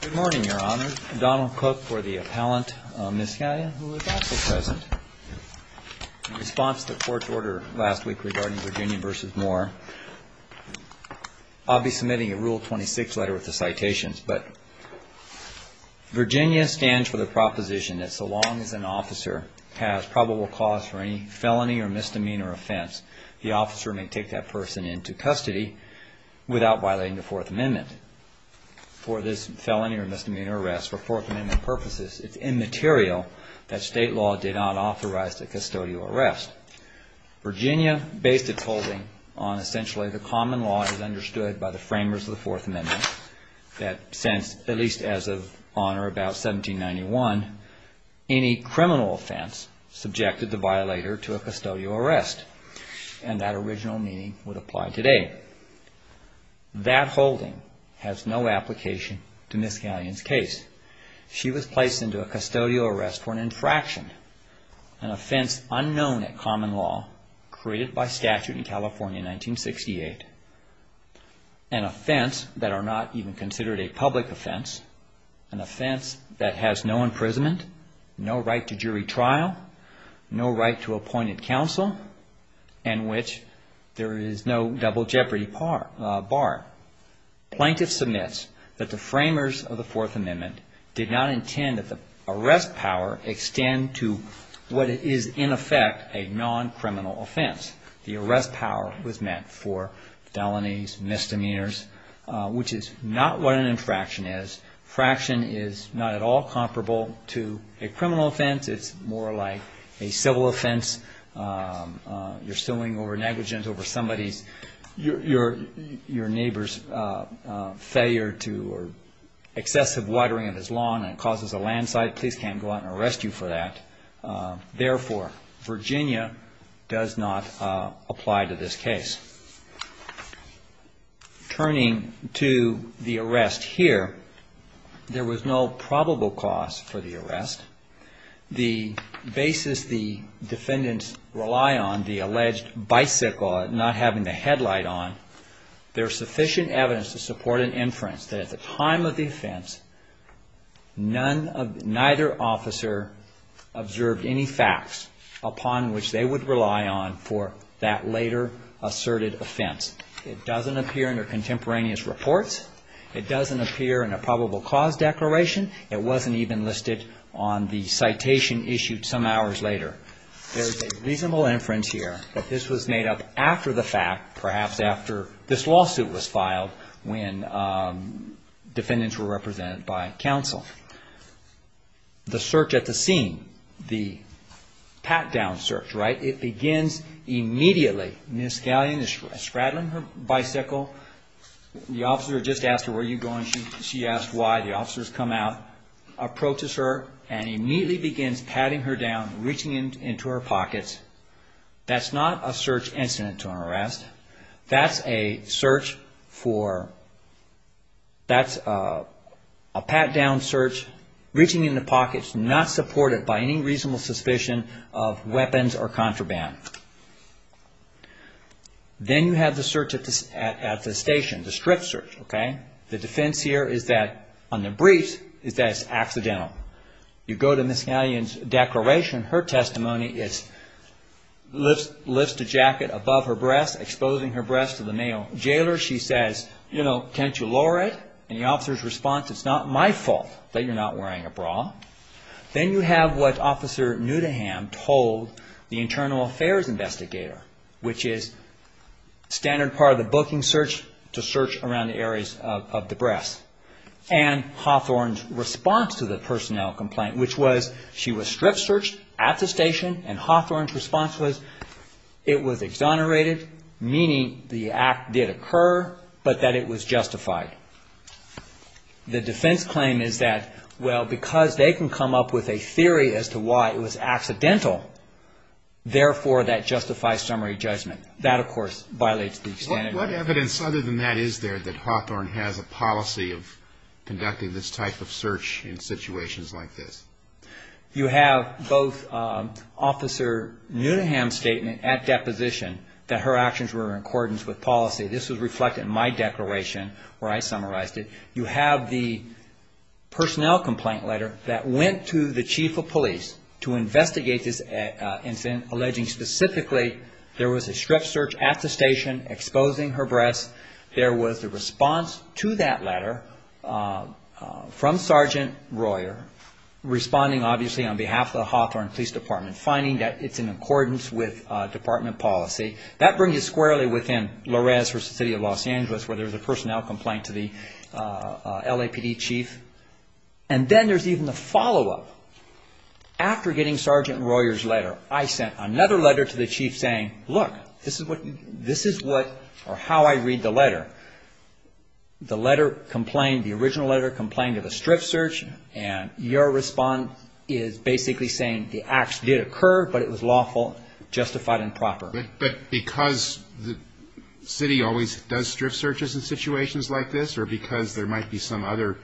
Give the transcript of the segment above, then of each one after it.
Good morning, Your Honor. Donald Cook for the appellant. Ms. Scallion, who is also present. In response to the court's order last week regarding Virginia v. Moore, I'll be submitting a Rule 26 letter with the citations, but Virginia stands for the proposition that so long as an officer has probable cause for any felony or misdemeanor offense, the officer may take that person into custody without violating the Fourth Amendment. for this felony or misdemeanor arrest for Fourth Amendment purposes, it's immaterial that state law did not authorize the custodial arrest. Virginia based its holding on essentially the common law as understood by the framers of the Fourth Amendment that since, at least as of on or about 1791, any criminal offense subjected the violator to a custodial arrest, and that original meaning would apply today. That holding has no application to Ms. Scallion's case. She was placed into a custodial arrest for an infraction, an offense unknown at common law created by statute in California in 1968, an offense that are not even considered a public offense, an offense that has no Plaintiff submits that the framers of the Fourth Amendment did not intend that the arrest power extend to what is in effect a non-criminal offense. The arrest power was meant for felonies, misdemeanors, which is not what an infraction is. Fraction is not at all comparable to a misdemeanor arrest. If your neighbor's failure to or excessive watering of his lawn causes a landslide, please can't go out and arrest you for that. Therefore, Virginia does not apply to this case. Turning to the arrest here, there was no probable cause for the arrest. The basis the defendants rely on, the alleged bicycle not having the license to ride a bicycle, was not a probable cause for the arrest. There is sufficient evidence to support an inference that at the time of the offense, neither officer observed any facts upon which they would rely on for that later asserted offense. It doesn't appear in their contemporaneous reports. It doesn't appear in a probable cause declaration. It wasn't even listed on the citation issued some hours later. There is a reasonable inference here that this was made up after the fact, perhaps after this lawsuit was filed, when defendants were represented by counsel. The search at the scene, the pat-down search, it begins immediately. Ms. Scallion is straddling her bicycle. The officers come out, approaches her and immediately begins patting her down, reaching into her pockets. That's not a search incident to an arrest. That's a search for, that's a pat-down search, reaching into pockets not supported by any reasonable suspicion of weapons or contraband. Then you have the search at the station, the strip search. The defense here is that, on the briefs, is that it's accidental. You go to Ms. Scallion's declaration, her testimony is, lifts the jacket above her breast, exposing her breast to the male jailer. She says, you know, can't you lower it? And the officer's response, it's not my fault that you're not wearing a bra. Then you have what Officer Newdeham told the internal affairs investigator, which is standard part of the booking search, to search around the areas of the breasts. And Hawthorne's response to the personnel complaint, which was, she was strip searched at the station, and Hawthorne's response was, it was exonerated, meaning the act did occur, but that it was justified. The defense claim is that, well, because they can come up with a theory as to why it was accidental, therefore, that justifies summary judgment. That, of course, violates the standard. What evidence other than that is there that Hawthorne has a policy of conducting this type of search in situations like this? You have both Officer Newdeham's statement at deposition that her actions were in accordance with policy. This was reflected in my declaration where I summarized it. You have the personnel complaint letter that went to the chief of police to investigate this incident, alleging specifically there was a responding, obviously, on behalf of the Hawthorne Police Department, finding that it's in accordance with department policy. That brings you squarely within Lorez versus the City of Los Angeles, where there's a personnel complaint to the LAPD chief. And then there's even the follow-up. After getting Sergeant Royer's letter, I sent another letter to the chief saying, look, this is what, or how I read the letter. The letter complained, the response is basically saying the acts did occur, but it was lawful, justified, and proper. But because the city always does strip searches in situations like this, or because there might be some other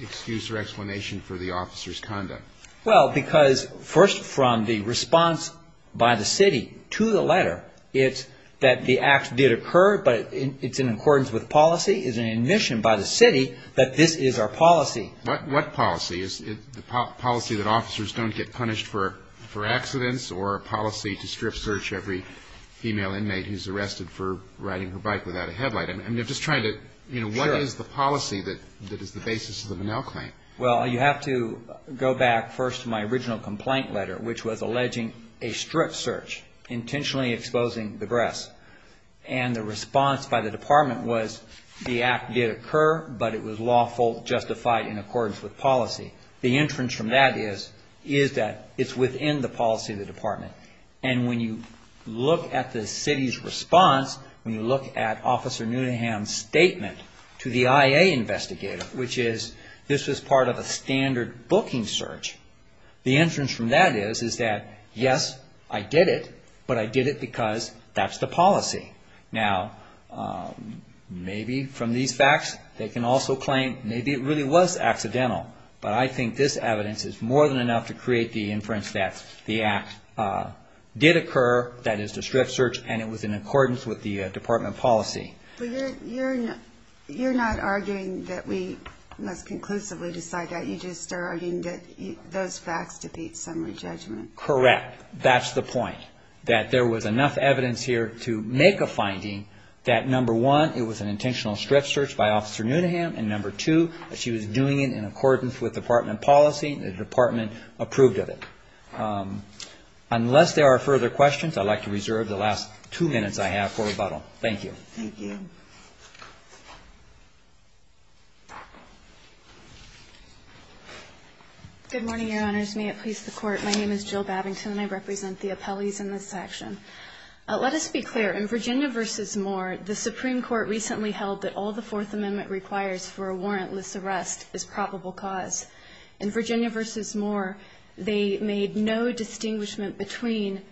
excuse or explanation for the officer's conduct? Well, because first from the response by the city to the letter, it's that the acts did occur, but it's in accordance with policy. It's an admission by the city that this is our policy. What policy? Is it the policy that officers don't get punished for accidents, or a policy to strip search every female inmate who's arrested for riding her bike without a headlight? I'm just trying to, you know, what is the policy that is the basis of the Minnell claim? Well, you have to go back first to my original complaint letter, which was alleging a strip search, intentionally exposing the breasts. And the entrance from that is, is that it's within the policy of the department. And when you look at the city's response, when you look at Officer Newnaham's statement to the IA investigator, which is, this was part of a standard booking search, the entrance from that is, is that yes, I did it, but I did it because that's the policy. Now, maybe from these facts, they can also claim maybe it really was accidental. But I think this evidence is more than enough to create the inference that the act did occur, that is, the strip search, and it was in accordance with the department policy. But you're not arguing that we must conclusively decide that. You just are arguing that those facts defeat summary judgment. Correct. That's the point, that there was enough evidence here to make a finding that, number one, it was an intentional strip search by Officer Newnaham, and number two, that she was doing it in accordance with department policy and the department approved of it. Unless there are further questions, I'd like to reserve the last two minutes I have for rebuttal. Thank you. Thank you. Good morning, Your Honors. May it please the Court. My name is Jill Babington, and I represent the appellees in this section. Let us be clear. In Virginia v. Moore, the Supreme Court recently held that all the Fourth Amendment requires for a warrantless arrest is probable cause. In Virginia v. Moore, they made no distinguishment between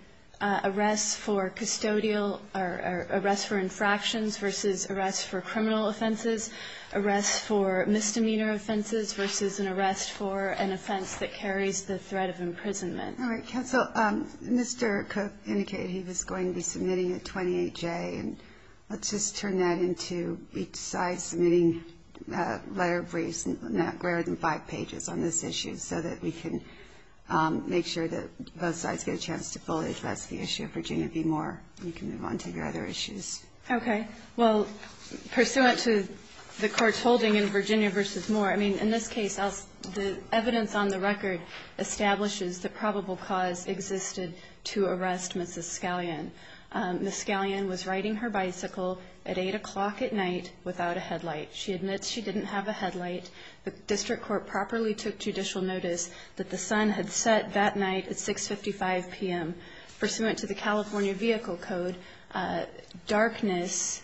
arrests for custodial or arrests for infractions versus arrests for criminal offenses, arrests for misdemeanor offenses versus an arrest for an offense that carries the threat of imprisonment. All right. Counsel, Mr. Cook indicated he was going to be submitting a 28J, and let's just turn that into each side submitting letter briefs, five pages on this issue, so that we can make sure that both sides get a chance to fully address the issue of Virginia v. Moore. You can move on to your other issues. Okay. Well, pursuant to the Court's holding in Virginia v. Moore, I mean, in this case, the evidence on the record establishes the probable cause existed to arrest Mrs. Scallion. Mrs. Scallion was riding her bicycle at 8 o'clock at night without a headlight. She admits she didn't have a headlight. The district court properly took judicial notice that the sun had set that night at 6.55 p.m. Pursuant to the California Vehicle Code, darkness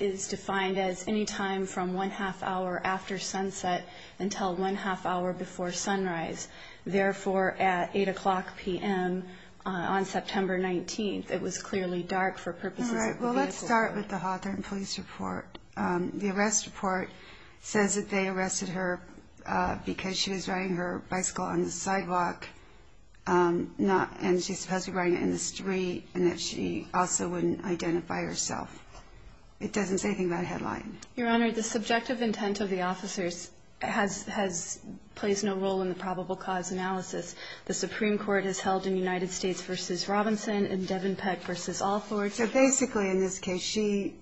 is defined as any time from one-half hour after sunset until one-half hour before sunrise. Therefore, at 8 o'clock p.m. on September 19th, it was clearly dark for purposes of the vehicle. All right. Well, let's start with the Hawthorne Police Report. The arrest report says that they arrested her because she was riding her bicycle on the sidewalk, and she's supposed to be riding it in the street, and that she also wouldn't identify herself. It doesn't say anything about a headlight. Your Honor, the subjective intent of the officers plays no role in the probable cause analysis. The Supreme Court has held in United States v. Robinson and Devenpeck v. Allthorne that she was riding her bicycle on the sidewalk. So basically, in this case, she,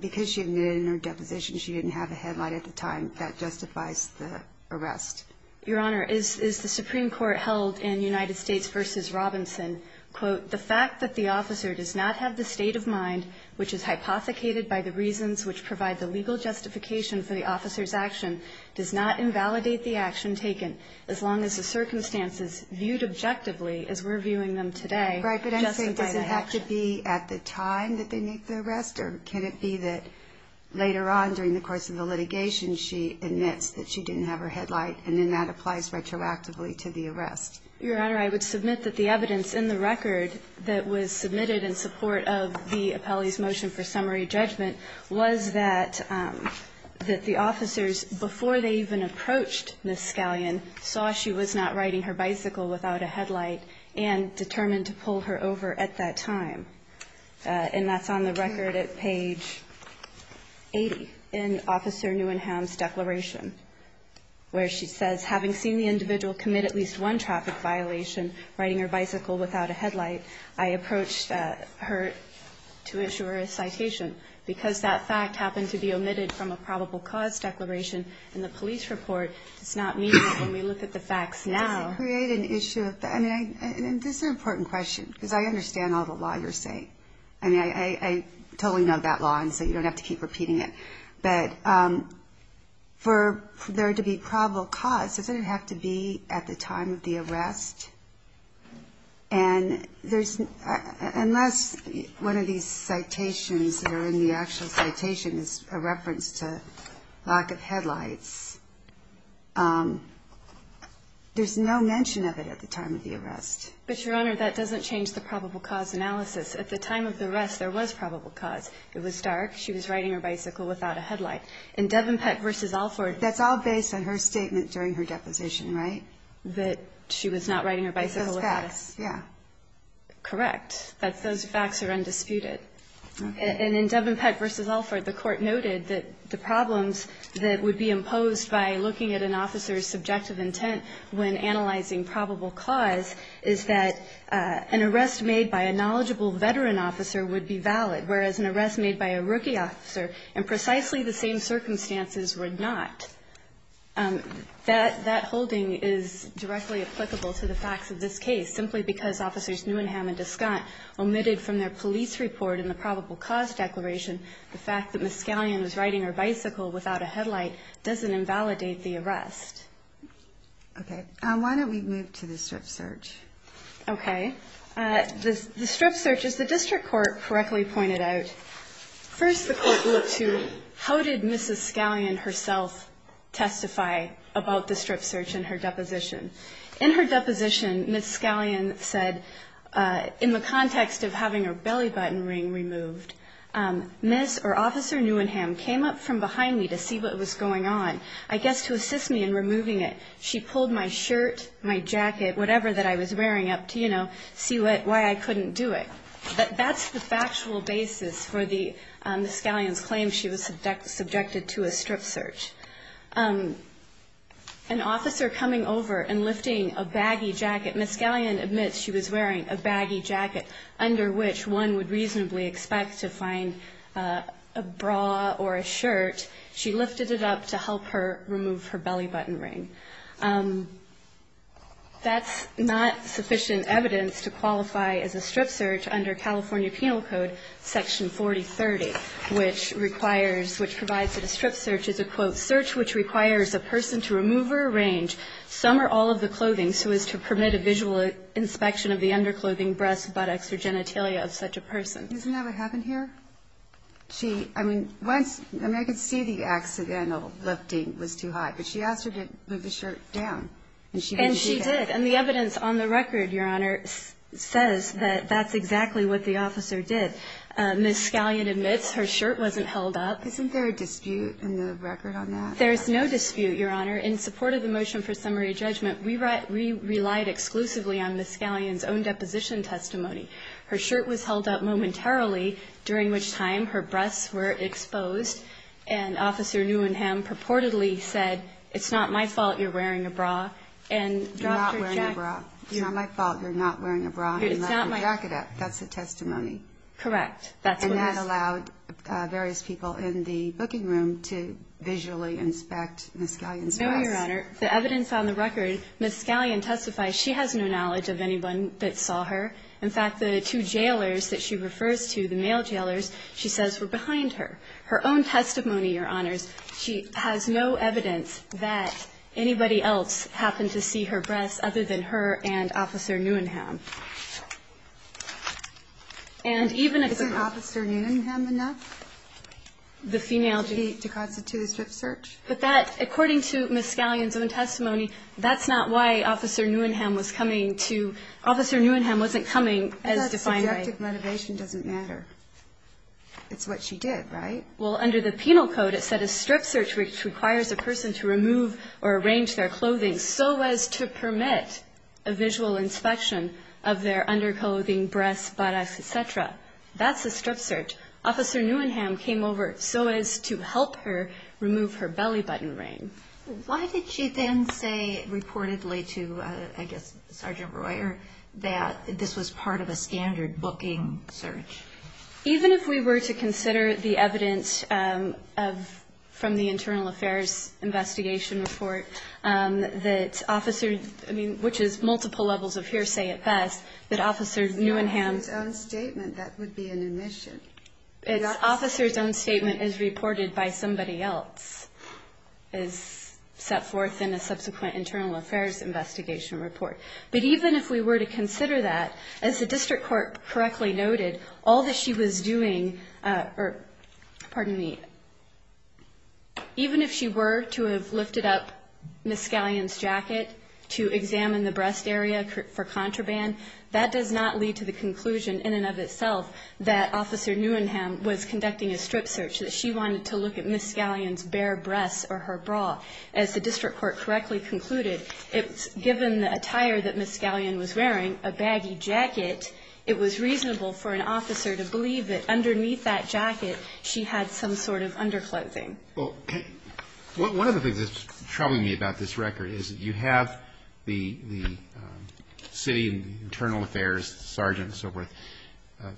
because she admitted in her deposition she didn't have a headlight at the time, that justifies the arrest. Your Honor, as the Supreme Court held in United States v. Robinson, quote, the fact that the officer does not have the state of mind, which is hypothecated by the reasons which provide the legal justification for the officer's action, does not invalidate the action taken, as long as the circumstances viewed objectively, as we're viewing them today, justify the action. But I'm saying, does it have to be at the time that they make the arrest, or can it be that later on during the course of the litigation, she admits that she didn't have her headlight, and then that applies retroactively to the arrest? Your Honor, I would submit that the evidence in the record that was submitted in support of the appellee's motion for summary judgment was that the officers, before they even approached Ms. Scallion, saw she was not riding her bicycle without a headlight and determined to pull her over at that time. And that's on the record at page 80 in Officer Newenham's declaration, where she says, having seen the individual commit at least one traffic violation, riding her bicycle without a headlight, I approached her to issue her a citation. Because that fact happened to be omitted from a probable cause declaration in the police report does not mean that when we look at the facts now Does it create an issue of that? I mean, this is an important question, because I understand all the law you're saying. I mean, I totally know that law, and so you don't have to keep repeating it. But for there to be probable cause, doesn't it have to be at the time of the arrest? And unless one of these citations that are in the actual citation is a reference to lack of headlights, there's no mention of it at the time of the arrest. But, Your Honor, that doesn't change the probable cause analysis. At the time of the arrest, there was probable cause. It was dark. She was riding her bicycle without a headlight. In Devenpeck v. Alford, that's all based on her statement during her deposition, right? That she was not riding her bicycle without a headlight. Correct. Those facts are undisputed. And in Devenpeck v. Alford, the Court noted that the problems that would be imposed by looking at an officer's subjective intent when analyzing probable cause is that an arrest made by a knowledgeable veteran officer would be valid, whereas an arrest made by a rookie officer in precisely the same circumstances would not. That holding is directly applicable to the facts of this case, simply because Officers Newenham and Descant omitted from their police report in the probable cause declaration the fact that Ms. Scallion was riding her bicycle without a headlight doesn't invalidate the arrest. Okay. Why don't we move to the strip search? Okay. The strip search, as the district court correctly pointed out, first the court looked to how did Mrs. Scallion herself testify about the strip search in her deposition. In her deposition, Ms. Scallion said, in the context of having her belly button ring removed, Ms. or Officer Newenham came up from behind me to see what was going on. I guess to assist me in removing it, she pulled my shirt, my jacket, whatever that I was wearing up to, you know, see why I couldn't do it. That's the factual basis for Ms. Scallion's claim she was subjected to a strip search. An officer coming over and lifting a baggy jacket, Ms. Scallion admits she was wearing a baggy jacket under which one would reasonably expect to find a bra or a shirt. She lifted it up to help her remove her belly button ring. That's not sufficient evidence to qualify as a strip search under California Penal Code Section 4030, which requires, which provides that a strip search is a, quote, search which requires a person to remove or arrange some or all of the clothing so as to permit a visual inspection of the underclothing, breasts, buttocks, or genitalia of such a person. Isn't that what happened here? She, I mean, once, I mean, I could see the accidental lifting was too high, but she asked her to move the shirt down. And she didn't do that. And she did. And the evidence on the record, Your Honor, says that that's exactly what the officer did. Ms. Scallion admits her shirt wasn't held up. Isn't there a dispute in the record on that? There is no dispute, Your Honor. Your Honor, in support of the motion for summary judgment, we relied exclusively on Ms. Scallion's own deposition testimony. Her shirt was held up momentarily, during which time her breasts were exposed, and Officer Newenham purportedly said, it's not my fault you're wearing a bra, and dropped her jacket. You're not wearing a bra. It's not my fault you're not wearing a bra and left your jacket up. That's the testimony. Correct. And that allowed various people in the booking room to visually inspect Ms. Scallion's breasts. No, Your Honor. The evidence on the record, Ms. Scallion testifies she has no knowledge of anyone that saw her. In fact, the two jailers that she refers to, the male jailers, she says were behind her. Her own testimony, Your Honors, she has no evidence that anybody else happened to see her breasts other than her and Officer Newenham. Isn't Officer Newenham enough to constitute a strip search? But that, according to Ms. Scallion's own testimony, that's not why Officer Newenham was coming to, Officer Newenham wasn't coming as defined by. That subjective motivation doesn't matter. It's what she did, right? Well, under the penal code, it said a strip search requires a person to remove or arrange their clothing so as to permit a visual inspection of their underclothing, breasts, buttocks, et cetera. That's a strip search. Officer Newenham came over so as to help her remove her belly button ring. Why did she then say reportedly to, I guess, Sergeant Royer, that this was part of a standard booking search? Even if we were to consider the evidence from the Internal Affairs Investigation Report that Officer, I mean, which is multiple levels of hearsay at best, that Officer Newenham's own statement is reported by somebody else, is set forth in a subsequent Internal Affairs Investigation Report. But even if we were to consider that, as the District Court correctly noted, all that she was doing, pardon me, even if she were to have lifted up Ms. Scallion's jacket to examine the breast area for contraband, that does not lead to the conclusion in and of itself that Officer Newenham was conducting a strip search, that she wanted to look at Ms. Scallion's bare breasts or her bra. As the District Court correctly concluded, given the attire that Ms. Scallion was wearing, a baggy jacket, it was reasonable for an officer to believe that underneath that jacket she had some sort of underclothing. Well, one of the things that's troubling me about this record is that you have the City Internal Affairs Sergeant and so forth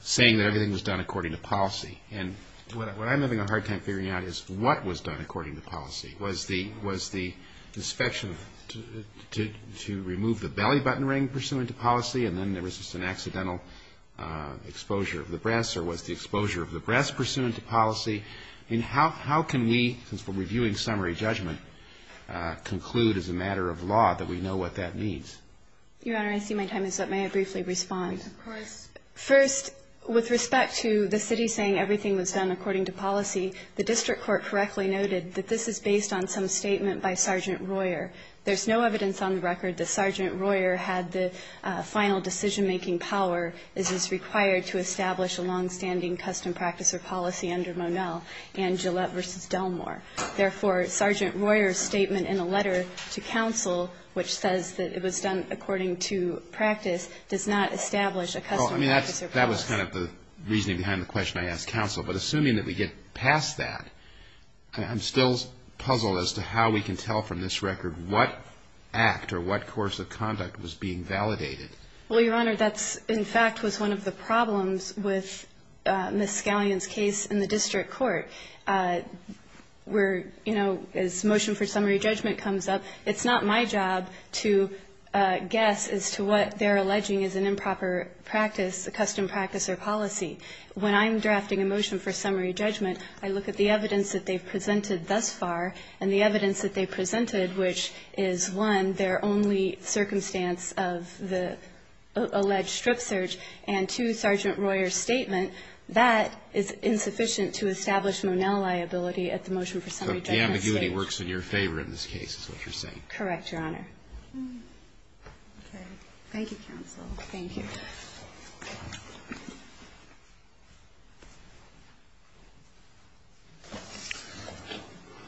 saying that everything was done according to policy. And what I'm having a hard time figuring out is what was done according to policy. Was the inspection to remove the belly button ring pursuant to policy and then there was just an accidental exposure of the breasts, or was the exposure of the breasts pursuant to policy? And how can we, since we're reviewing summary judgment, conclude as a matter of law that we know what that means? Your Honor, I see my time is up. May I briefly respond? Of course. First, with respect to the City saying everything was done according to policy, the District Court correctly noted that this is based on some statement by Sergeant Royer. There's no evidence on the record that Sergeant Royer had the final decision-making power as is required to establish a longstanding custom practice or policy under Monel and Gillette v. Delmore. Therefore, Sergeant Royer's statement in a letter to counsel which says that it was done according to practice does not establish a custom practice or policy. Well, I mean, that was kind of the reasoning behind the question I asked counsel. But assuming that we get past that, I'm still puzzled as to how we can tell from this record what act or what course of conduct was being validated. Well, Your Honor, that's in fact was one of the problems with Ms. Scallion's case in the District Court where, you know, as motion for summary judgment comes up, it's not my job to guess as to what they're alleging is an improper practice, a custom practice or policy. When I'm drafting a motion for summary judgment, I look at the evidence that they've presented thus far, and the evidence that they've presented, which is, one, their only circumstance of the alleged strip search, and two, Sergeant Royer's statement, that is insufficient to establish Monel liability at the motion for summary judgment stage. So the ambiguity works in your favor in this case is what you're saying. Correct, Your Honor. Okay. Thank you, counsel. Thank you. Thank you.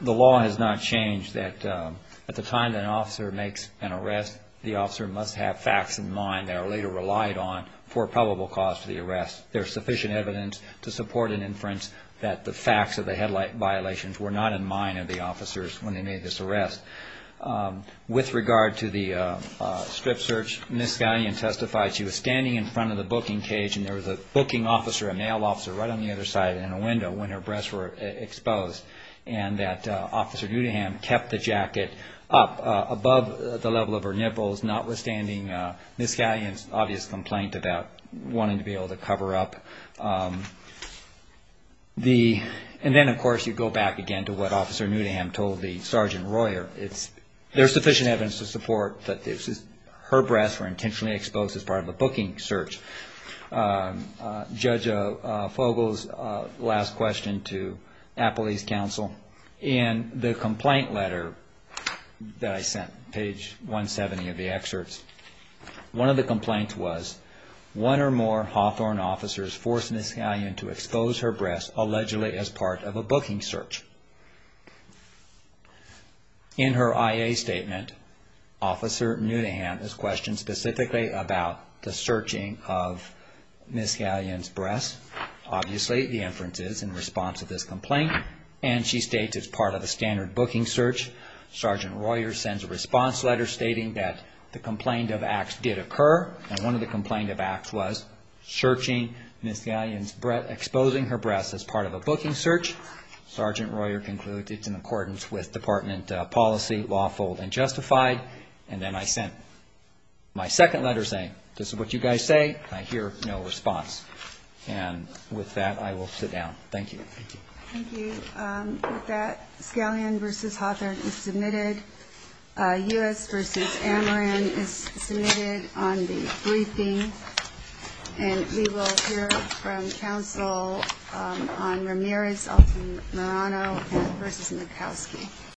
The law has not changed that at the time that an officer makes an arrest, the officer must have facts in mind that are later relied on for a probable cause for the arrest. There's sufficient evidence to support an inference that the facts of the headlight violations were not in mind of the officers when they made this arrest. With regard to the strip search, Ms. Scallion testified she was standing in front of the booking cage, and there was a booking officer, a male officer, right on the other side in a window when her breasts were exposed, and that Officer Newdaham kept the jacket up above the level of her nipples, notwithstanding Ms. Scallion's obvious complaint about wanting to be able to cover up. And then, of course, you go back again to what Officer Newdaham told the Sergeant Royer. There's sufficient evidence to support that her breasts were intentionally exposed as part of a booking search. Judge Fogel's last question to Appley's counsel, in the complaint letter that I sent, page 170 of the excerpts, one of the complaints was, one or more Hawthorne officers forced Ms. Scallion to expose her breasts allegedly as part of a booking search. In her IA statement, Officer Newdaham is questioned specifically about the searching of Ms. Scallion's breasts. Obviously, the inference is in response to this complaint, and she states it's part of a standard booking search. Sergeant Royer sends a response letter stating that the complaint of Axe did occur, and one of the complaints of Axe was searching Ms. Scallion's breasts, exposing her breasts as part of a booking search. Sergeant Royer concluded it's in accordance with department policy, lawful and justified. And then I sent my second letter saying, this is what you guys say. I hear no response. And with that, I will sit down. Thank you. Thank you. With that, Scallion v. Hawthorne is submitted. U.S. v. Amaran is submitted on the briefing. And we will hear from counsel on Ramirez v. Marano v. Murkowski.